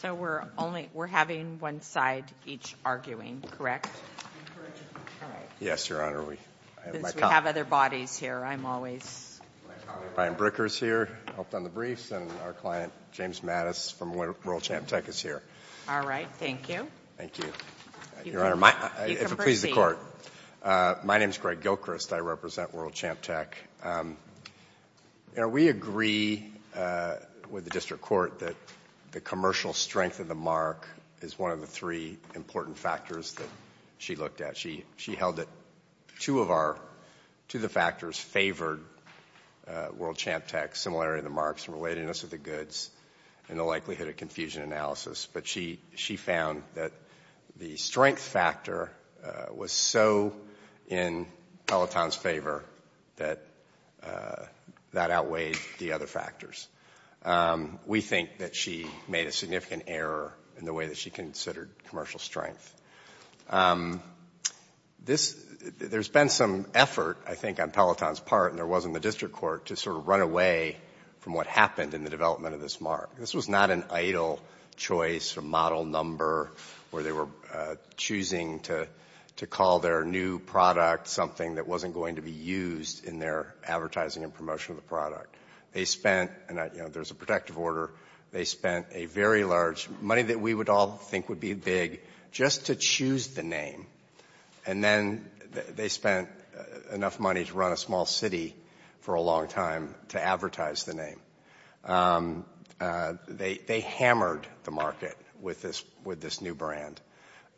So we're having one side each arguing, correct? Yes, Your Honor. Since we have other bodies here, I'm always... My colleague Brian Bricker is here, helped on the briefs, and our client James Mattis from World Champ Tech is here. All right, thank you. Thank you. Your Honor, if it pleases the Court, my name is Greg Gilchrist. I represent World Champ Tech. We agree with the District Court that the commercial strength of the mark is one of the three important factors that she looked at. She held that two of the factors favored World Champ Tech, similarity of the marks and relatedness of the goods and the likelihood of confusion analysis. But she found that the strength factor was so in Peloton's favor that that outweighed the other factors. We think that she made a significant error in the way that she considered commercial strength. There's been some effort, I think, on Peloton's part, and there was in the District Court, to sort of run away from what happened in the development of this mark. This was not an idle choice or model number where they were choosing to call their new product something that wasn't going to be used in their advertising and promotion of the product. They spent, and there's a protective order, they spent a very large, money that we would all think would be big, just to choose the name, and then they spent enough money to run a small city for a long time to advertise the name. They hammered the market with this new brand,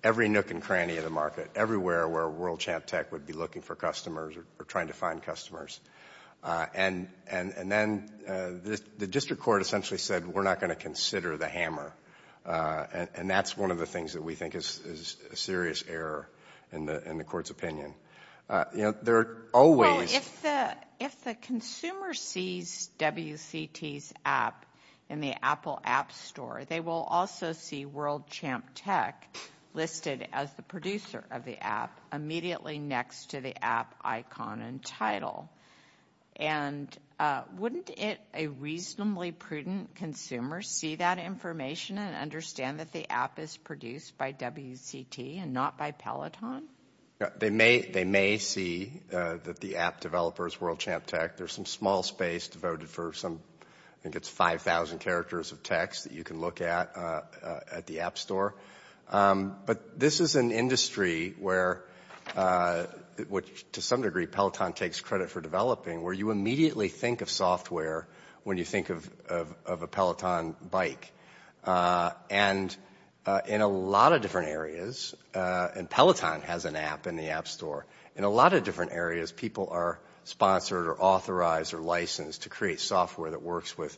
every nook and cranny of the market, everywhere where World Champ Tech would be looking for customers or trying to find customers. And then the District Court essentially said, we're not going to consider the hammer, and that's one of the things that we think is a serious error in the Court's opinion. There are always... Well, if the consumer sees WCT's app in the Apple App Store, they will also see World Champ Tech listed as the producer of the app immediately next to the app icon and title. And wouldn't a reasonably prudent consumer see that information and understand that the app is produced by WCT and not by Peloton? They may see that the app developer is World Champ Tech. There's some small space devoted for some, I think it's 5,000 characters of text that you can look at at the App Store. But this is an industry where, to some degree, Peloton takes credit for developing, where you immediately think of software when you think of a Peloton bike. And in a lot of different areas, and Peloton has an app in the App Store, in a lot of different areas people are sponsored or authorized or licensed to create software that works with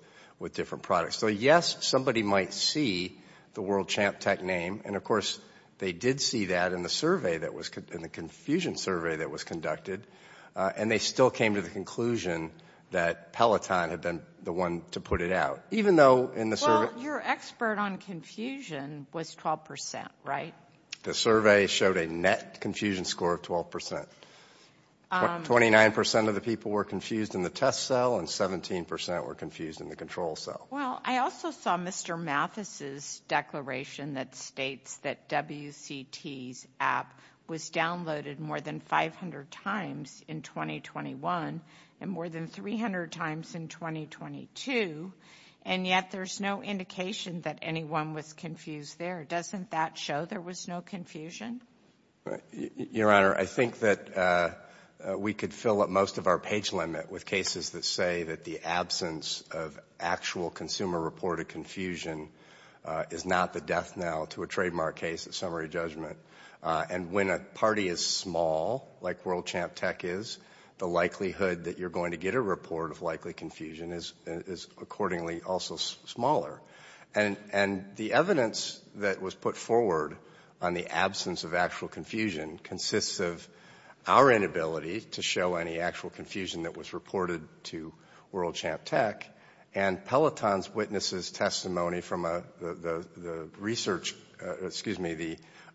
different products. So, yes, somebody might see the World Champ Tech name, and, of course, they did see that in the confusion survey that was conducted, and they still came to the conclusion that Peloton had been the one to put it out. Well, your expert on confusion was 12%, right? The survey showed a net confusion score of 12%. 29% of the people were confused in the test cell, and 17% were confused in the control cell. Well, I also saw Mr. Mathis's declaration that states that WCT's app was downloaded more than 500 times in 2021 and more than 300 times in 2022, and yet there's no indication that anyone was confused there. Doesn't that show there was no confusion? Your Honor, I think that we could fill up most of our page limit with cases that say that the absence of actual consumer-reported confusion is not the death knell to a trademark case at summary judgment. And when a party is small, like World Champ Tech is, the likelihood that you're going to get a report of likely confusion is accordingly also smaller. And the evidence that was put forward on the absence of actual confusion consists of our inability to show any actual confusion that was reported to World Champ Tech, and Peloton's witnesses' testimony from the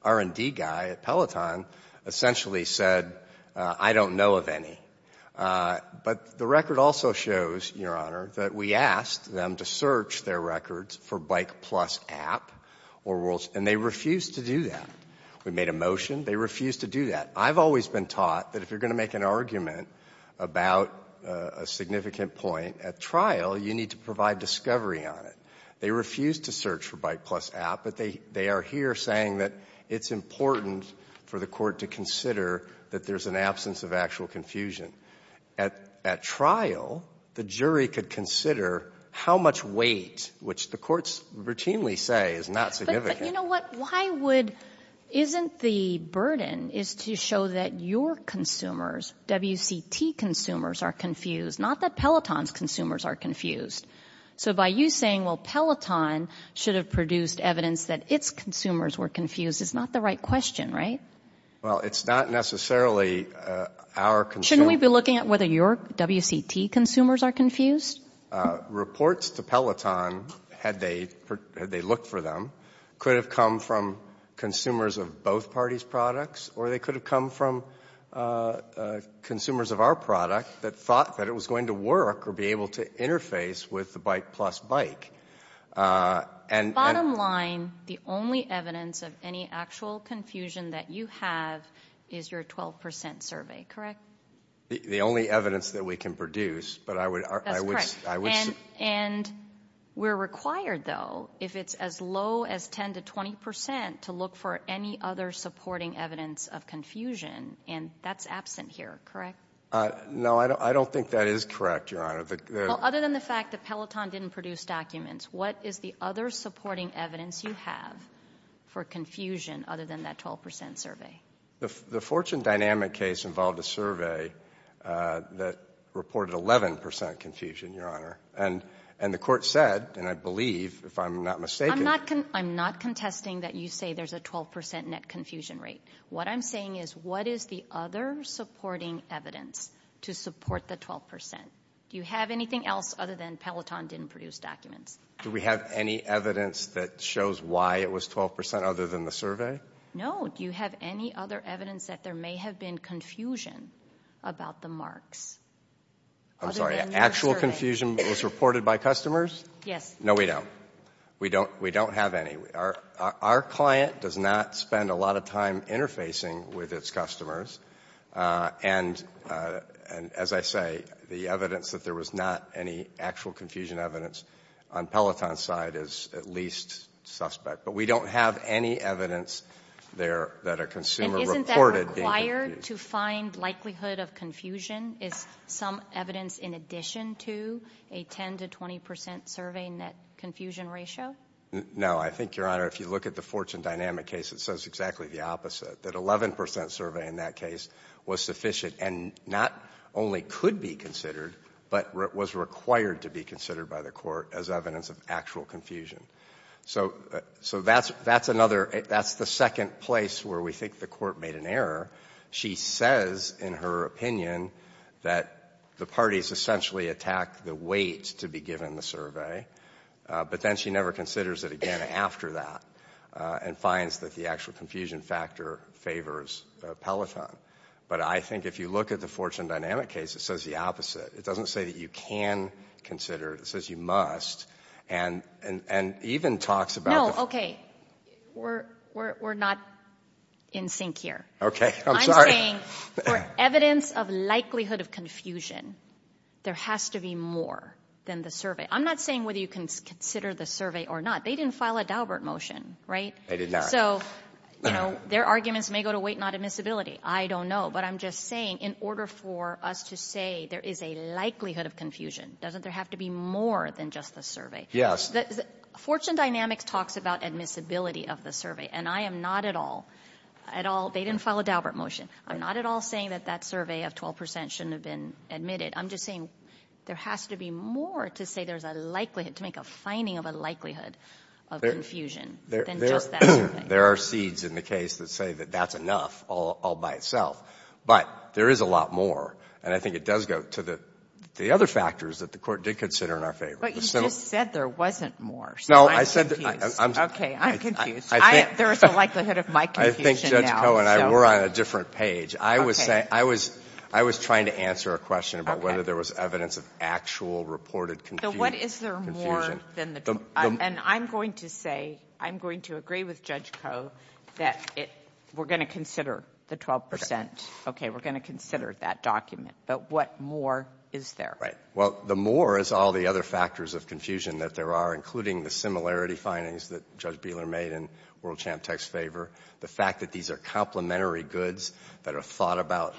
R&D guy at Peloton essentially said, I don't know of any. But the record also shows, Your Honor, that we asked them to search their records for Bike Plus app, and they refused to do that. We made a motion. They refused to do that. I've always been taught that if you're going to make an argument about a significant point at trial, you need to provide discovery on it. They refused to search for Bike Plus app, but they are here saying that it's important for the court to consider that there's an absence of actual confusion. At trial, the jury could consider how much weight, which the courts routinely say is not significant. You know what? Why would isn't the burden is to show that your consumers, WCT consumers, are confused, not that Peloton's consumers are confused? So by you saying, well, Peloton should have produced evidence that its consumers were confused, is not the right question, right? Well, it's not necessarily our concern. Shouldn't we be looking at whether your WCT consumers are confused? Reports to Peloton, had they looked for them, could have come from consumers of both parties' products, or they could have come from consumers of our product that thought that it was going to work or be able to interface with the Bike Plus bike. Bottom line, the only evidence of any actual confusion that you have is your 12% survey, correct? The only evidence that we can produce. That's correct. And we're required, though, if it's as low as 10% to 20% to look for any other supporting evidence of confusion, and that's absent here, correct? No, I don't think that is correct, Your Honor. Other than the fact that Peloton didn't produce documents, what is the other supporting evidence you have for confusion other than that 12% survey? The Fortune Dynamic case involved a survey that reported 11% confusion, Your Honor, and the court said, and I believe, if I'm not mistaken— I'm not contesting that you say there's a 12% net confusion rate. What I'm saying is what is the other supporting evidence to support the 12%? Do you have anything else other than Peloton didn't produce documents? Do we have any evidence that shows why it was 12% other than the survey? No. Do you have any other evidence that there may have been confusion about the marks other than the survey? I'm sorry, actual confusion was reported by customers? Yes. No, we don't. We don't have any. Our client does not spend a lot of time interfacing with its customers, and as I say, the evidence that there was not any actual confusion evidence on Peloton's side is at least suspect. But we don't have any evidence there that a consumer reported being confused. And isn't that required to find likelihood of confusion? Is some evidence in addition to a 10% to 20% survey net confusion ratio? No. I think, Your Honor, if you look at the Fortune Dynamic case, it says exactly the opposite, that 11% survey in that case was sufficient and not only could be considered, but was required to be considered by the court as evidence of actual confusion. So that's the second place where we think the court made an error. She says in her opinion that the parties essentially attack the weight to be given the survey, but then she never considers it again after that and finds that the actual confusion factor favors Peloton. But I think if you look at the Fortune Dynamic case, it says the opposite. It doesn't say that you can consider it. It says you must. And even talks about the- No, okay. We're not in sync here. Okay. I'm sorry. I'm saying for evidence of likelihood of confusion, there has to be more than the survey. I'm not saying whether you can consider the survey or not. They didn't file a Daubert motion, right? They did not. So, you know, their arguments may go to weight, not admissibility. I don't know. But I'm just saying in order for us to say there is a likelihood of confusion, doesn't there have to be more than just the survey? Fortune Dynamics talks about admissibility of the survey, and I am not at all, at all. They didn't file a Daubert motion. I'm not at all saying that that survey of 12 percent shouldn't have been admitted. I'm just saying there has to be more to say there's a likelihood, to make a finding of a likelihood of confusion than just that survey. There are seeds in the case that say that that's enough all by itself. But there is a lot more. And I think it does go to the other factors that the court did consider in our favor. But you just said there wasn't more. So I'm confused. Okay, I'm confused. There is a likelihood of my confusion now. I think Judge Koh and I were on a different page. I was trying to answer a question about whether there was evidence of actual reported confusion. So what is there more than the 12 percent? And I'm going to say, I'm going to agree with Judge Koh that we're going to consider the 12 percent. Okay, we're going to consider that document. But what more is there? Well, the more is all the other factors of confusion that there are, including the similarity findings that Judge Beeler made in World Champ Tech's favor, the fact that these are complementary goods that are thought about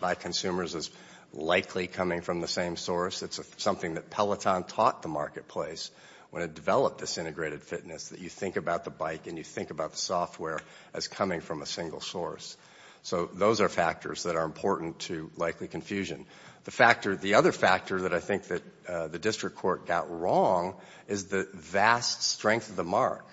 by consumers as likely coming from the same source. It's something that Peloton taught the marketplace when it developed this integrated fitness, that you think about the bike and you think about the software as coming from a single source. So those are factors that are important to likely confusion. The other factor that I think that the district court got wrong is the vast strength of the mark.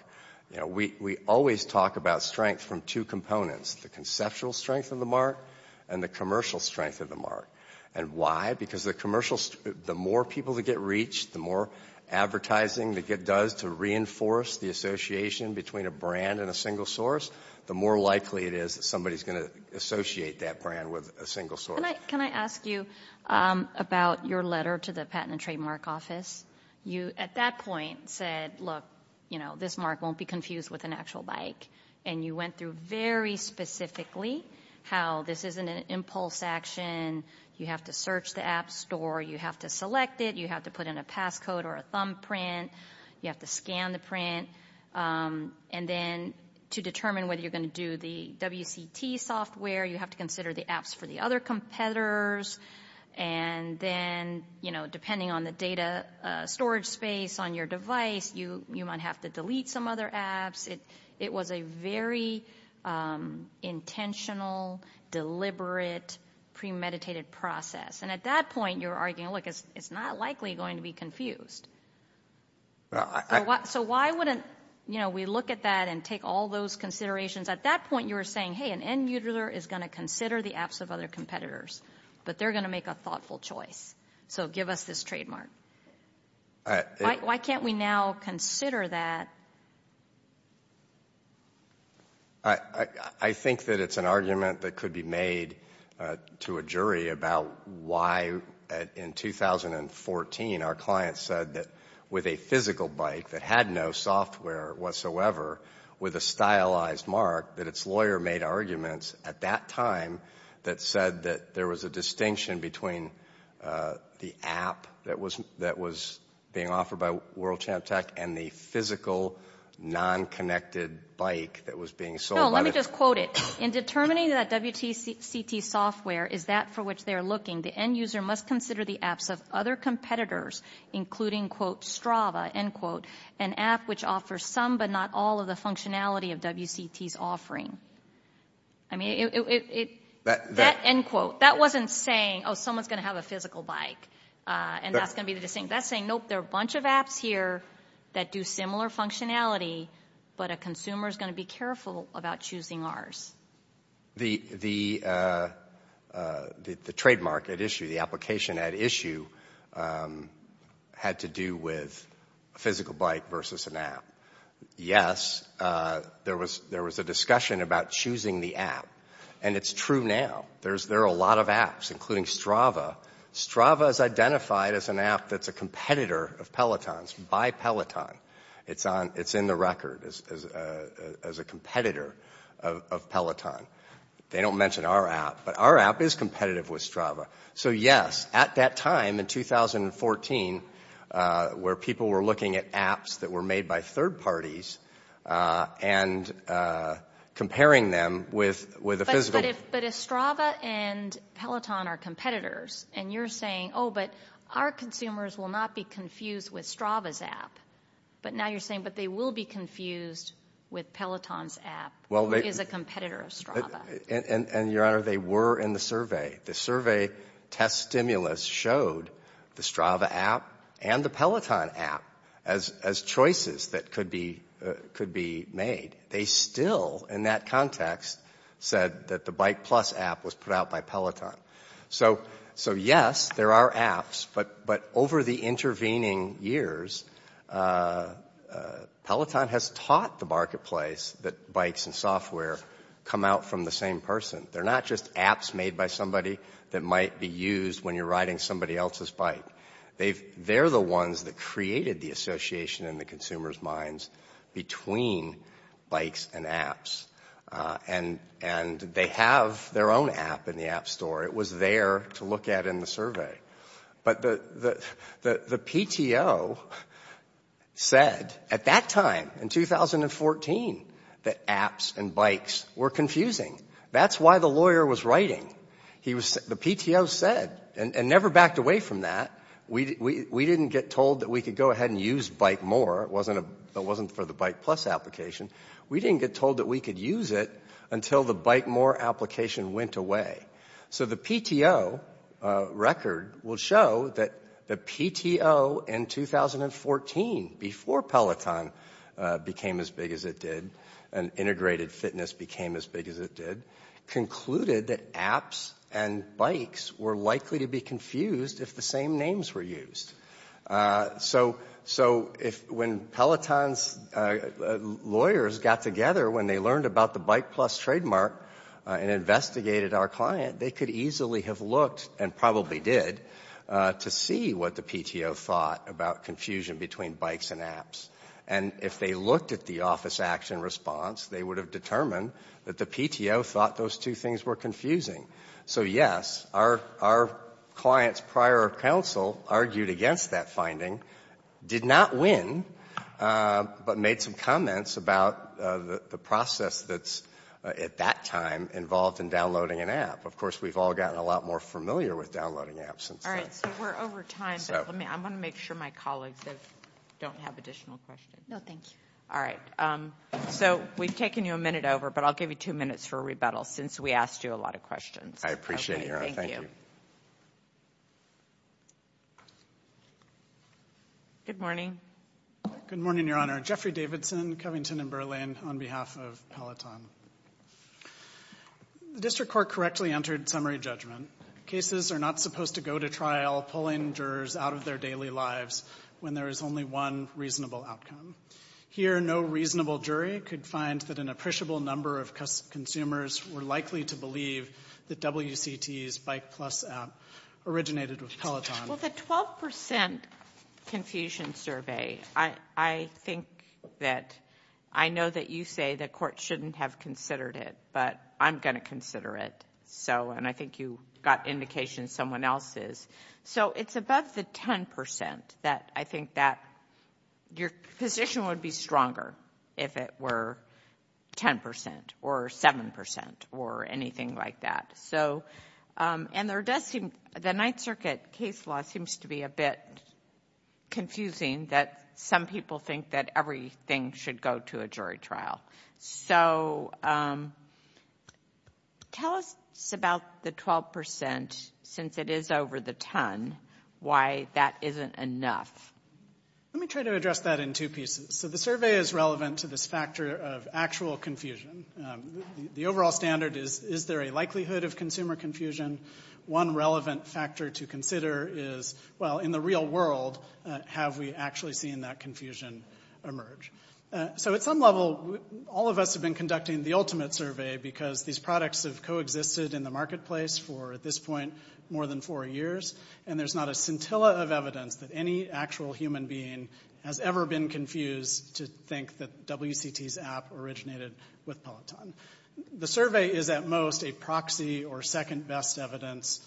We always talk about strength from two components, the conceptual strength of the mark and the commercial strength of the mark. And why? Because the more people that get reached, the more advertising that it does to reinforce the association between a brand and a single source, the more likely it is that somebody is going to associate that brand with a single source. Can I ask you about your letter to the Patent and Trademark Office? You, at that point, said, look, you know, this mark won't be confused with an actual bike. And you went through very specifically how this isn't an impulse action. You have to search the app store. You have to select it. You have to put in a passcode or a thumbprint. You have to scan the print. And then to determine whether you're going to do the WCT software, you have to consider the apps for the other competitors. And then, you know, depending on the data storage space on your device, you might have to delete some other apps. It was a very intentional, deliberate, premeditated process. And at that point, you're arguing, look, it's not likely going to be confused. So why wouldn't, you know, we look at that and take all those considerations. At that point, you were saying, hey, an end user is going to consider the apps of other competitors, but they're going to make a thoughtful choice. So give us this trademark. Why can't we now consider that? I think that it's an argument that could be made to a jury about why, in 2014, our client said that with a physical bike that had no software whatsoever, with a stylized mark, that its lawyer made arguments at that time that said that there was a distinction between the app that was being offered by World Champ Tech and the physical, non-connected bike that was being sold. No, let me just quote it. In determining that WCT software is that for which they are looking, the end user must consider the apps of other competitors, including, quote, Strava, end quote, an app which offers some but not all of the functionality of WCT's offering. I mean, that end quote, that wasn't saying, oh, someone's going to have a physical bike, and that's going to be the distinction. That's saying, nope, there are a bunch of apps here that do similar functionality, but a consumer is going to be careful about choosing ours. The trademark at issue, the application at issue, had to do with a physical bike versus an app. Yes, there was a discussion about choosing the app, and it's true now. There are a lot of apps, including Strava. Strava is identified as an app that's a competitor of Peloton's, by Peloton. It's in the record as a competitor of Peloton. They don't mention our app, but our app is competitive with Strava. So, yes, at that time in 2014, where people were looking at apps that were made by third parties and comparing them with a physical. But if Strava and Peloton are competitors, and you're saying, oh, but our consumers will not be confused with Strava's app. But now you're saying, but they will be confused with Peloton's app, who is a competitor of Strava. And, Your Honor, they were in the survey. The survey test stimulus showed the Strava app and the Peloton app as choices that could be made. They still, in that context, said that the Bike Plus app was put out by Peloton. So, yes, there are apps. But over the intervening years, Peloton has taught the marketplace that bikes and software come out from the same person. They're not just apps made by somebody that might be used when you're riding somebody else's bike. They're the ones that created the association in the consumer's minds between bikes and apps. And they have their own app in the app store. It was there to look at in the survey. But the PTO said, at that time, in 2014, that apps and bikes were confusing. That's why the lawyer was writing. The PTO said, and never backed away from that, we didn't get told that we could go ahead and use Bike More. It wasn't for the Bike Plus application. We didn't get told that we could use it until the Bike More application went away. So the PTO record will show that the PTO, in 2014, before Peloton became as big as it did and integrated fitness became as big as it did, concluded that apps and bikes were likely to be confused if the same names were used. So when Peloton's lawyers got together when they learned about the Bike Plus trademark and investigated our client, they could easily have looked, and probably did, to see what the PTO thought about confusion between bikes and apps. And if they looked at the office action response, they would have determined that the PTO thought those two things were confusing. So yes, our client's prior counsel argued against that finding, did not win, but made some comments about the process that's, at that time, involved in downloading an app. Of course, we've all gotten a lot more familiar with downloading apps. All right, so we're over time, but I'm going to make sure my colleagues don't have additional questions. No, thank you. All right. So we've taken you a minute over, but I'll give you two minutes for rebuttal, since we asked you a lot of questions. I appreciate it, Your Honor. Thank you. Good morning. Good morning, Your Honor. Jeffrey Davidson, Covington & Berlin, on behalf of Peloton. The District Court correctly entered summary judgment. Cases are not supposed to go to trial pulling jurors out of their daily lives when there is only one reasonable outcome. Here, no reasonable jury could find that an appreciable number of consumers were likely to believe that WCT's Bike Plus app originated with Peloton. Well, the 12% confusion survey, I think that I know that you say the court shouldn't have considered it, but I'm going to consider it, and I think you got indications someone else is. So it's above the 10% that I think that your position would be stronger if it were 10% or 7% or anything like that. And the Ninth Circuit case law seems to be a bit confusing that some people think that everything should go to a jury trial. So tell us about the 12%, since it is over the 10, why that isn't enough. Let me try to address that in two pieces. So the survey is relevant to this factor of actual confusion. The overall standard is, is there a likelihood of consumer confusion? One relevant factor to consider is, well, in the real world, have we actually seen that confusion emerge? So at some level, all of us have been conducting the ultimate survey because these products have coexisted in the marketplace for, at this point, more than four years, and there's not a scintilla of evidence that any actual human being has ever been confused to think that WCT's app originated with Peloton. The survey is, at most, a proxy or second-best evidence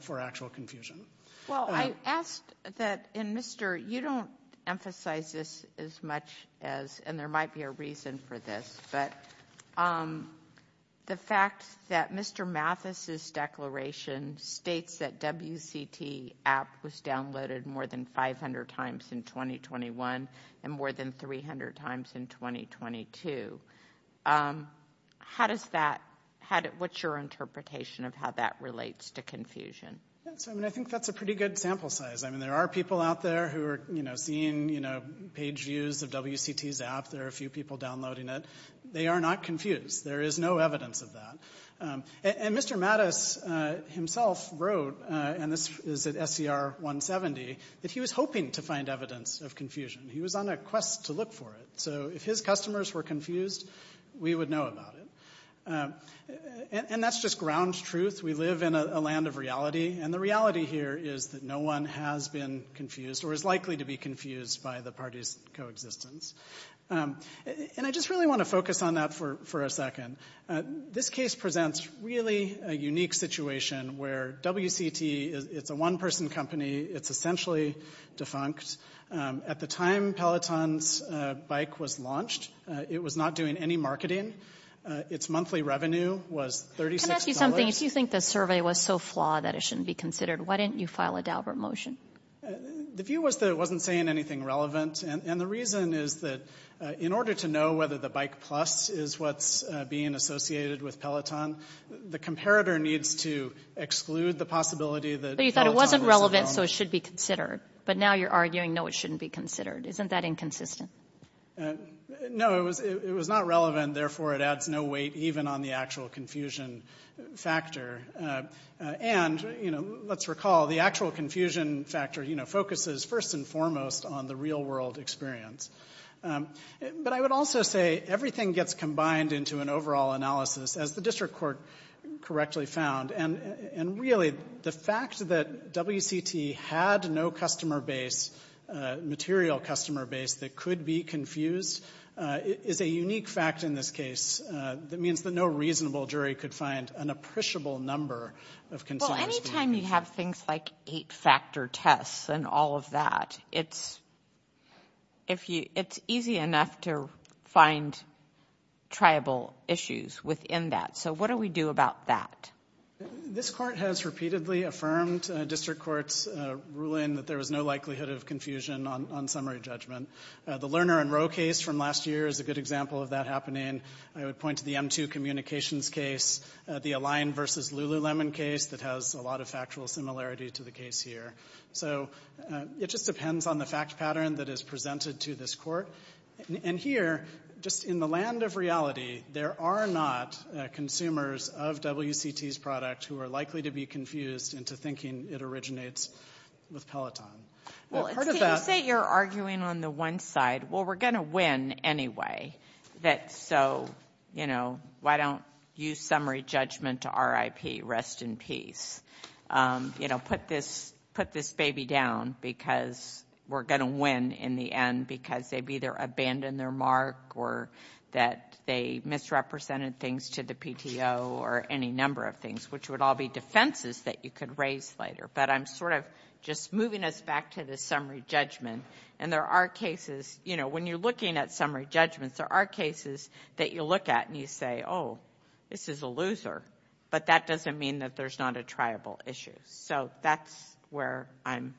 for actual confusion. Well, I asked that, and, Mr., you don't emphasize this as much as, and there might be a reason for this, but the fact that Mr. Mathis's declaration states that WCT app was downloaded more than 500 times in 2021 and more than 300 times in 2022, how does that, what's your interpretation of how that relates to confusion? So, I mean, I think that's a pretty good sample size. I mean, there are people out there who are, you know, seeing, you know, page views of WCT's app. There are a few people downloading it. They are not confused. There is no evidence of that. And Mr. Mathis himself wrote, and this is at SCR 170, that he was hoping to find evidence of confusion. He was on a quest to look for it. So if his customers were confused, we would know about it. And that's just ground truth. We live in a land of reality. And the reality here is that no one has been confused or is likely to be confused by the party's coexistence. And I just really want to focus on that for a second. This case presents really a unique situation where WCT, it's a one-person company. It's essentially defunct. At the time Peloton's bike was launched, it was not doing any marketing. Its monthly revenue was $36. Let me ask you something. If you think the survey was so flawed that it shouldn't be considered, why didn't you file a Daubert motion? The view was that it wasn't saying anything relevant. And the reason is that in order to know whether the Bike Plus is what's being associated with Peloton, the comparator needs to exclude the possibility that Peloton was the problem. But you thought it wasn't relevant so it should be considered. But now you're arguing, no, it shouldn't be considered. Isn't that inconsistent? No, it was not relevant. And, therefore, it adds no weight even on the actual confusion factor. And, you know, let's recall, the actual confusion factor, you know, focuses first and foremost on the real-world experience. But I would also say everything gets combined into an overall analysis, as the district court correctly found. And, really, the fact that WCT had no customer base, material customer base that could be confused is a unique fact in this case. That means that no reasonable jury could find an appreciable number of concerns. Well, any time you have things like eight-factor tests and all of that, it's easy enough to find tribal issues within that. So what do we do about that? This court has repeatedly affirmed district courts' ruling that there was no likelihood of confusion on summary judgment. The Lerner and Rowe case from last year is a good example of that happening. I would point to the M2 communications case, the Align v. Lululemon case that has a lot of factual similarity to the case here. So it just depends on the fact pattern that is presented to this court. And here, just in the land of reality, there are not consumers of WCT's product who are likely to be confused into thinking it originates with Peloton. You say you're arguing on the one side. Well, we're going to win anyway. So, you know, why don't you summary judgment to RIP? Rest in peace. You know, put this baby down because we're going to win in the end because they've either abandoned their mark or that they misrepresented things to the PTO or any number of things, which would all be defenses that you could raise later. But I'm sort of just moving us back to the summary judgment. And there are cases, you know, when you're looking at summary judgments, there are cases that you look at and you say, oh, this is a loser. But that doesn't mean that there's not a tribal issue. So that's where I'm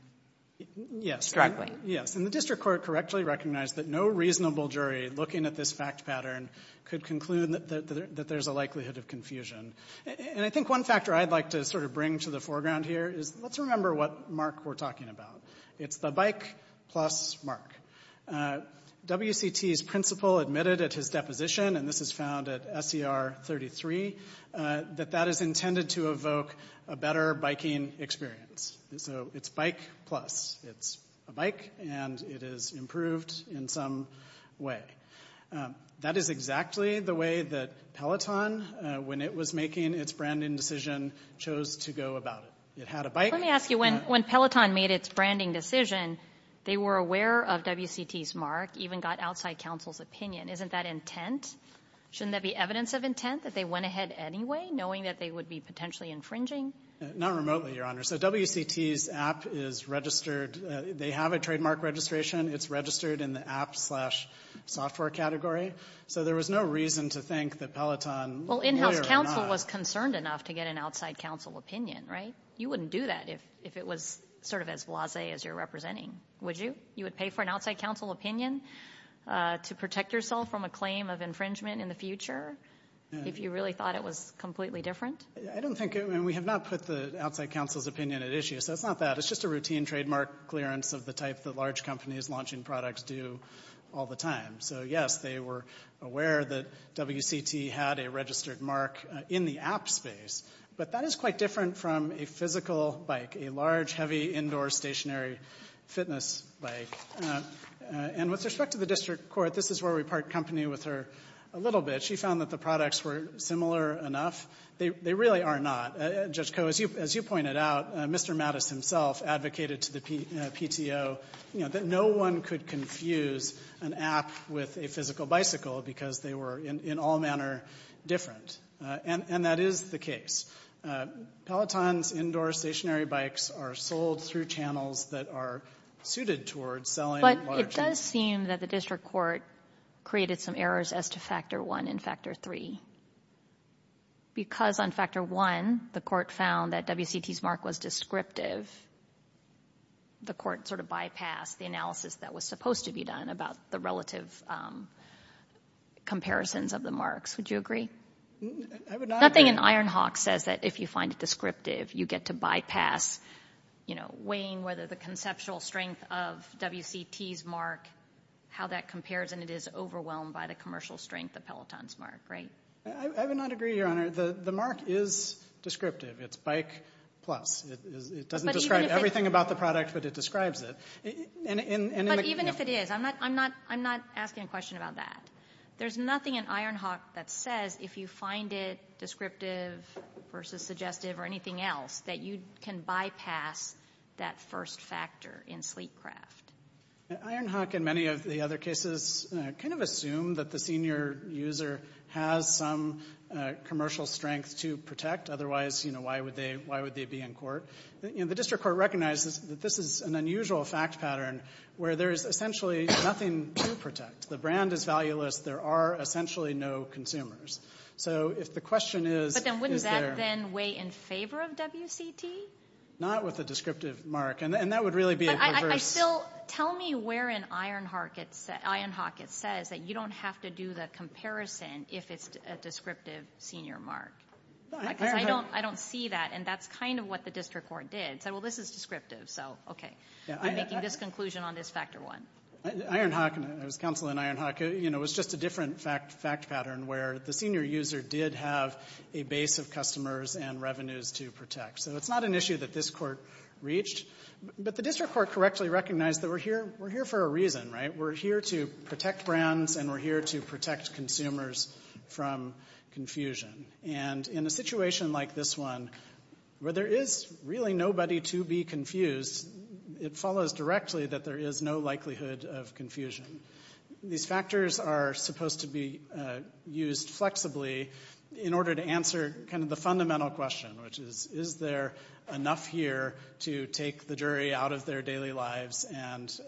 struggling. Yes, and the district court correctly recognized that no reasonable jury looking at this fact pattern could conclude that there's a likelihood of confusion. And I think one factor I'd like to sort of bring to the foreground here is let's remember what mark we're talking about. It's the bike plus mark. WCT's principal admitted at his deposition, and this is found at SCR 33, that that is intended to evoke a better biking experience. So it's bike plus. It's a bike, and it is improved in some way. That is exactly the way that Peloton, when it was making its branding decision, chose to go about it. Let me ask you, when Peloton made its branding decision, they were aware of WCT's mark, even got outside counsel's opinion. Isn't that intent? Shouldn't that be evidence of intent, that they went ahead anyway, knowing that they would be potentially infringing? Not remotely, Your Honor. So WCT's app is registered. They have a trademark registration. It's registered in the app slash software category. So there was no reason to think that Peloton, whether or not... Well, in-house counsel was concerned enough to get an outside counsel opinion, right? You wouldn't do that if it was sort of as blasé as you're representing. Would you? You would pay for an outside counsel opinion to protect yourself from a claim of infringement in the future if you really thought it was completely different? I don't think... And we have not put the outside counsel's opinion at issue, so it's not that. It's just a routine trademark clearance of the type that large companies launching products do all the time. So, yes, they were aware that WCT had a registered mark in the app space, but that is quite different from a physical bike, a large, heavy, indoor, stationary fitness bike. And with respect to the district court, this is where we part company with her a little bit. She found that the products were similar enough. They really are not. Judge Koh, as you pointed out, Mr. Mattis himself advocated to the PTO, you know, that no one could confuse an app with a physical bicycle because they were in all manner different. And that is the case. Pelotons, indoor, stationary bikes are sold through channels that are suited towards selling large... But it does seem that the district court created some errors as to Factor 1 and Factor 3. Because on Factor 1, the court found that WCT's mark was descriptive, the court sort of bypassed the analysis that was supposed to be done about the relative comparisons of the marks. Would you agree? Nothing in Ironhawk says that if you find it descriptive, you get to bypass, you know, weighing whether the conceptual strength of WCT's mark, how that compares, and it is overwhelmed by the commercial strength of Peloton's mark, right? I would not agree, Your Honor. The mark is descriptive. It's bike plus. It doesn't describe everything about the product, but it describes it. But even if it is, I'm not asking a question about that. There's nothing in Ironhawk that says if you find it descriptive versus suggestive or anything else that you can bypass that first factor in sleek craft. Ironhawk, in many of the other cases, kind of assumed that the senior user has some commercial strength to protect. Otherwise, you know, why would they be in court? You know, the district court recognizes that this is an unusual fact pattern where there is essentially nothing to protect. The brand is valueless. There are essentially no consumers. So if the question is, is there – But then wouldn't that then weigh in favor of WCT? Not with a descriptive mark. And that would really be a reverse. But I still – tell me where in Ironhawk it says that you don't have to do the comparison if it's a descriptive senior mark. Because I don't see that, and that's kind of what the district court did. It said, well, this is descriptive, so okay. I'm making this conclusion on this factor one. Ironhawk – it was counsel in Ironhawk. You know, it was just a different fact pattern where the senior user did have a base of customers and revenues to protect. So it's not an issue that this court reached. But the district court correctly recognized that we're here for a reason, right? We're here to protect brands, and we're here to protect consumers from confusion. And in a situation like this one, where there is really nobody to be confused, it follows directly that there is no likelihood of confusion. These factors are supposed to be used flexibly in order to answer kind of the fundamental question, which is, is there enough here to take the jury out of their daily lives and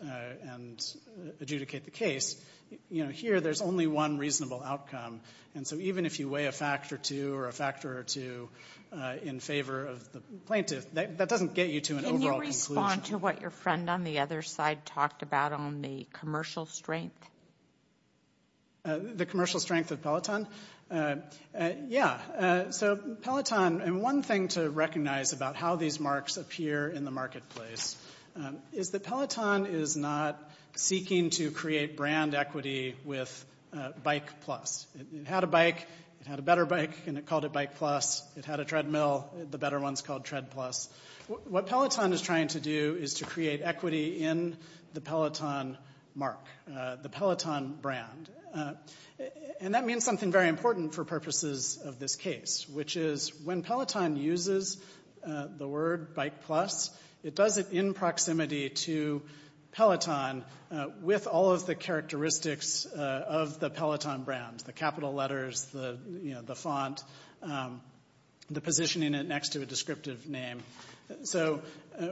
adjudicate the case? You know, here there's only one reasonable outcome. And so even if you weigh a factor two or a factor two in favor of the plaintiff, that doesn't get you to an overall conclusion. Can you respond to what your friend on the other side talked about on the commercial strength? The commercial strength of Peloton? Yeah. So Peloton, and one thing to recognize about how these marks appear in the marketplace, is that Peloton is not seeking to create brand equity with Bike Plus. It had a bike, it had a better bike, and it called it Bike Plus. It had a treadmill. The better one's called Tread Plus. What Peloton is trying to do is to create equity in the Peloton mark, the Peloton brand. And that means something very important for purposes of this case, which is when Peloton uses the word Bike Plus, it does it in proximity to Peloton with all of the characteristics of the Peloton brand, the capital letters, the font, the positioning it next to a descriptive name. So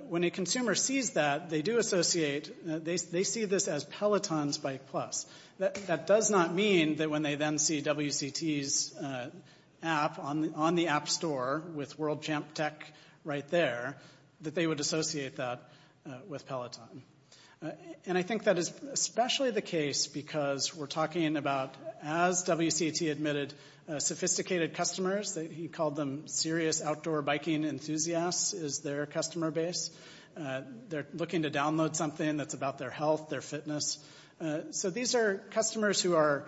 when a consumer sees that, they do associate, they see this as Peloton's Bike Plus. That does not mean that when they then see WCT's app on the app store with World Champ Tech right there, that they would associate that with Peloton. And I think that is especially the case because we're talking about, as WCT admitted, sophisticated customers that he called them serious outdoor biking enthusiasts is their customer base. They're looking to download something that's about their health, their fitness. So these are customers who are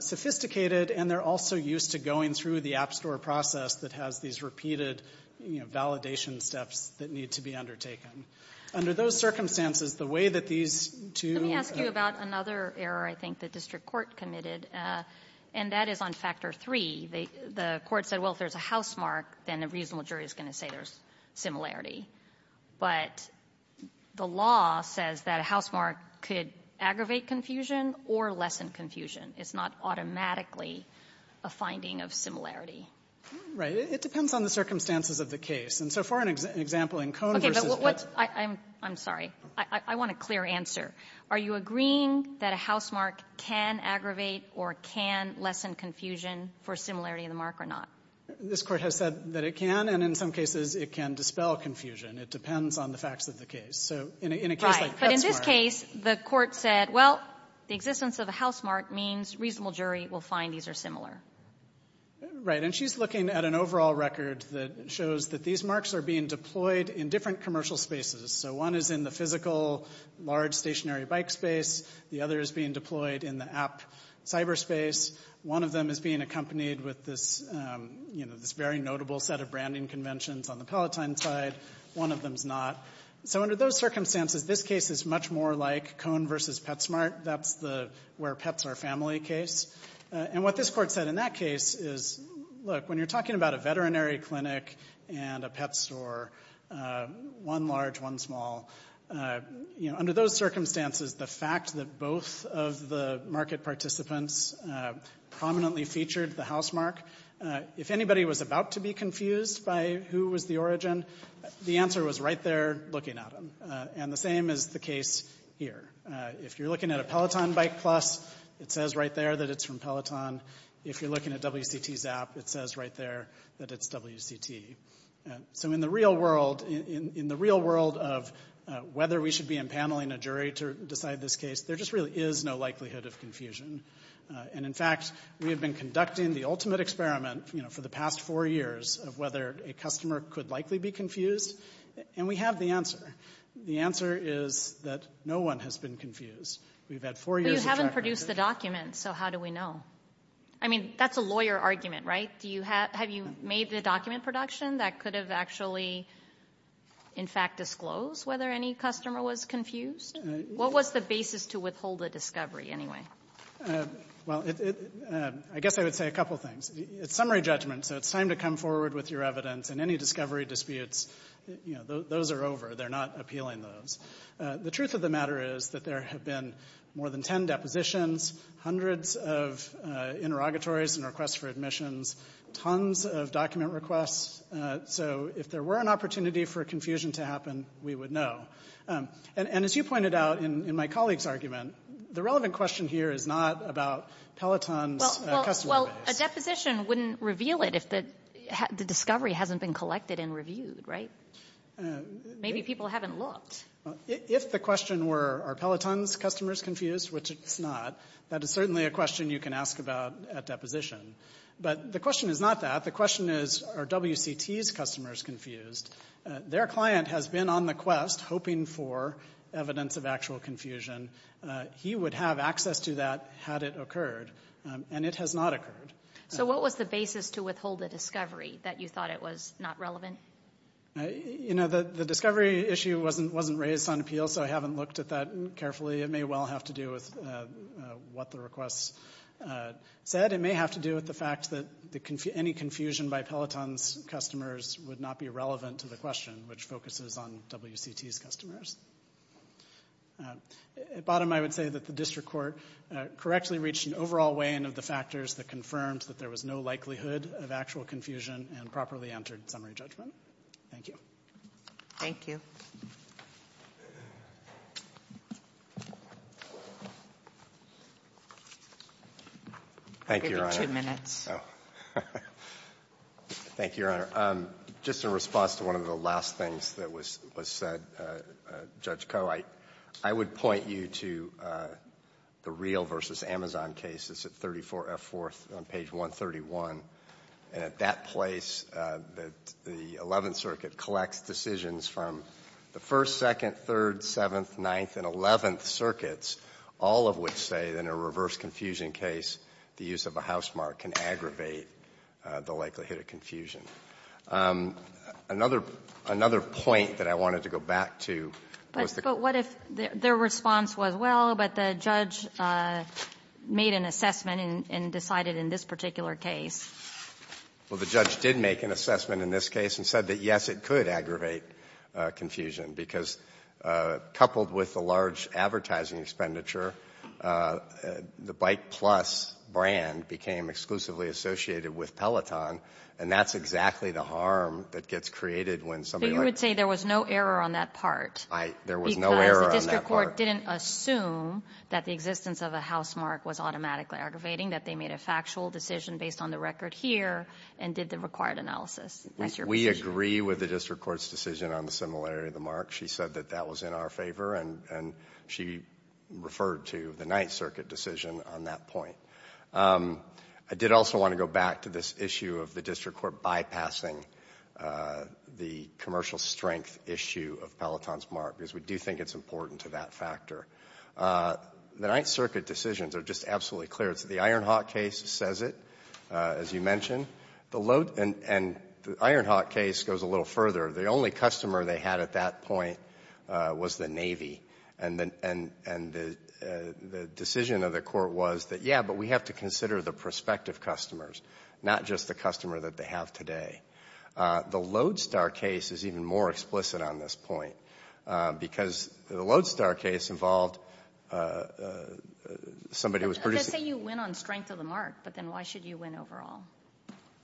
sophisticated, and they're also used to going through the app store process that has these repeated validation steps that need to be undertaken. Under those circumstances, the way that these two- Let me ask you about another error I think the district court committed, and that is on factor three. The court said, well, if there's a housemark, then a reasonable jury is going to say there's similarity. But the law says that a housemark could aggravate confusion or lessen confusion. It's not automatically a finding of similarity. It depends on the circumstances of the case. And so for an example in Cone versus- I'm sorry. I want a clear answer. Are you agreeing that a housemark can aggravate or can lessen confusion for similarity in the mark or not? This court has said that it can, and in some cases, it can dispel confusion. It depends on the facts of the case. So in a case like- Right, but in this case, the court said, well, the existence of a housemark means reasonable jury will find these are similar. Right, and she's looking at an overall record that shows that these marks are being deployed in different commercial spaces. So one is in the physical large stationary bike space. The other is being deployed in the app cyberspace. One of them is being accompanied with this very notable set of branding conventions on the Palatine side. One of them's not. So under those circumstances, this case is much more like Cone versus Petsmart. That's the where pets are family case. And what this court said in that case is, look, when you're talking about a veterinary clinic and a pet store, one large, one small, under those circumstances, the fact that both of the market participants prominently featured the housemark, if anybody was about to be confused by who was the origin, the answer was right there looking at them. And the same is the case here. If you're looking at a Peloton bike plus, it says right there that it's from Peloton. If you're looking at WCT's app, it says right there that it's WCT. So in the real world, in the real world of whether we should be impaneling a jury to decide this case, there just really is no likelihood of confusion. And, in fact, we have been conducting the ultimate experiment, you know, for the past four years of whether a customer could likely be confused. And we have the answer. The answer is that no one has been confused. We've had four years of track record. But you haven't produced the document, so how do we know? I mean, that's a lawyer argument, right? Have you made the document production that could have actually, in fact, disclosed whether any customer was confused? What was the basis to withhold a discovery anyway? Well, I guess I would say a couple things. It's summary judgment, so it's time to come forward with your evidence. And any discovery disputes, you know, those are over. They're not appealing those. The truth of the matter is that there have been more than 10 depositions, hundreds of interrogatories and requests for admissions, tons of document requests. So if there were an opportunity for confusion to happen, we would know. And as you pointed out in my colleague's argument, the relevant question here is not about Peloton's customer base. Well, a deposition wouldn't reveal it if the discovery hasn't been collected and reviewed, right? Maybe people haven't looked. If the question were, are Peloton's customers confused, which it's not, that is certainly a question you can ask about at deposition. But the question is not that. The question is, are WCT's customers confused? Their client has been on the quest, hoping for evidence of actual confusion. He would have access to that had it occurred, and it has not occurred. So what was the basis to withhold a discovery that you thought it was not relevant? You know, the discovery issue wasn't raised on appeal, so I haven't looked at that carefully. It may well have to do with what the request said. It may have to do with the fact that any confusion by Peloton's customers would not be relevant to the question, which focuses on WCT's customers. At bottom, I would say that the district court correctly reached an overall weigh-in of the factors that confirmed that there was no likelihood of actual confusion and properly entered summary judgment. Thank you. Thank you. Thank you, Your Honor. You have two minutes. Thank you, Your Honor. Just in response to one of the last things that was said, Judge Koh, I would point you to the Real v. Amazon case. It's at 34F4 on page 131. And at that place, the 11th Circuit collects decisions from the 1st, 2nd, 3rd, 7th, 9th, and 11th Circuits, all of which say that in a reverse confusion case, the use of a housemark can aggravate the likelihood of confusion. Another point that I wanted to go back to was the ---- But what if their response was, Well, but the judge made an assessment and decided in this particular case. Well, the judge did make an assessment in this case and said that, yes, it could aggravate confusion, because coupled with the large advertising expenditure, the Bike Plus brand became exclusively associated with Peloton, and that's exactly the harm that gets created when somebody like ---- But you would say there was no error on that part. I ---- There was no error on that part. The court didn't assume that the existence of a housemark was automatically aggravating, that they made a factual decision based on the record here and did the required analysis. We agree with the district court's decision on the similarity of the mark. She said that that was in our favor, and she referred to the 9th Circuit decision on that point. I did also want to go back to this issue of the district court bypassing the commercial strength issue of Peloton's mark, because we do think it's important to that factor. The 9th Circuit decisions are just absolutely clear. The Ironhawk case says it, as you mentioned, and the Ironhawk case goes a little further. The only customer they had at that point was the Navy, and the decision of the court was that, yeah, but we have to consider the prospective customers, not just the customer that they have today. The Lodestar case is even more explicit on this point, because the Lodestar case involved somebody who was producing ---- Let's say you win on strength of the mark, but then why should you win overall?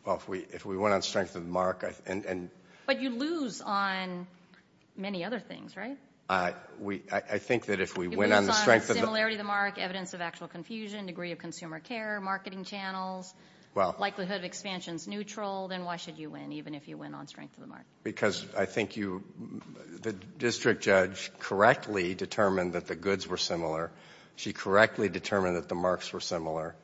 Well, if we win on strength of the mark and ---- But you lose on many other things, right? I think that if we win on the strength of the ---- You lose on similarity of the mark, evidence of actual confusion, degree of consumer care, marketing channels, likelihood of expansions neutral, then why should you win, even if you win on strength of the mark? Because I think the district judge correctly determined that the goods were similar. She correctly determined that the marks were similar.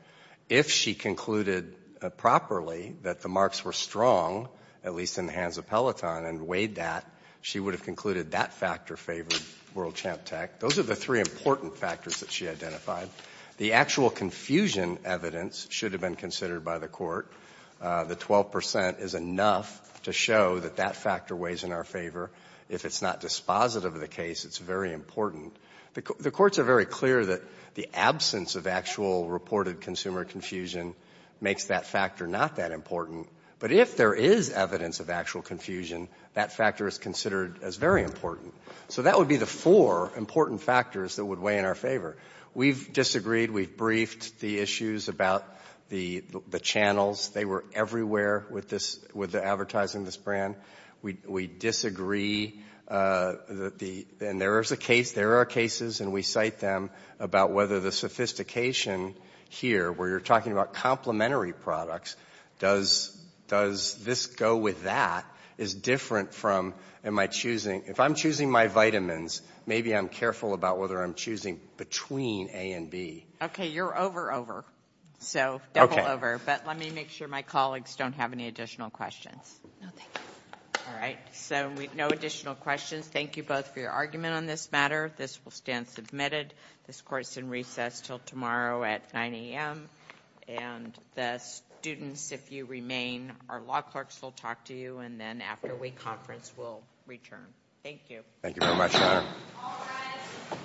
If she concluded properly that the marks were strong, at least in the hands of Peloton, and weighed that, she would have concluded that factor favored World Champ Tech. Those are the three important factors that she identified. The actual confusion evidence should have been considered by the court. The 12 percent is enough to show that that factor weighs in our favor. If it's not dispositive of the case, it's very important. The courts are very clear that the absence of actual reported consumer confusion makes that factor not that important. But if there is evidence of actual confusion, that factor is considered as very important. So that would be the four important factors that would weigh in our favor. We've disagreed. We've briefed the issues about the channels. They were everywhere with the advertising of this brand. We disagree. And there are cases, and we cite them, about whether the sophistication here, where you're talking about complementary products, does this go with that? If I'm choosing my vitamins, maybe I'm careful about whether I'm choosing between A and B. Okay, you're over over, so double over. But let me make sure my colleagues don't have any additional questions. No, thank you. All right, so no additional questions. Thank you both for your argument on this matter. This will stand submitted. This court is in recess until tomorrow at 9 a.m. And the students, if you remain, our law clerks will talk to you, and then after we conference, we'll return. Thank you. Thank you very much, Your Honor. All rise. This court is in session, and adjourned.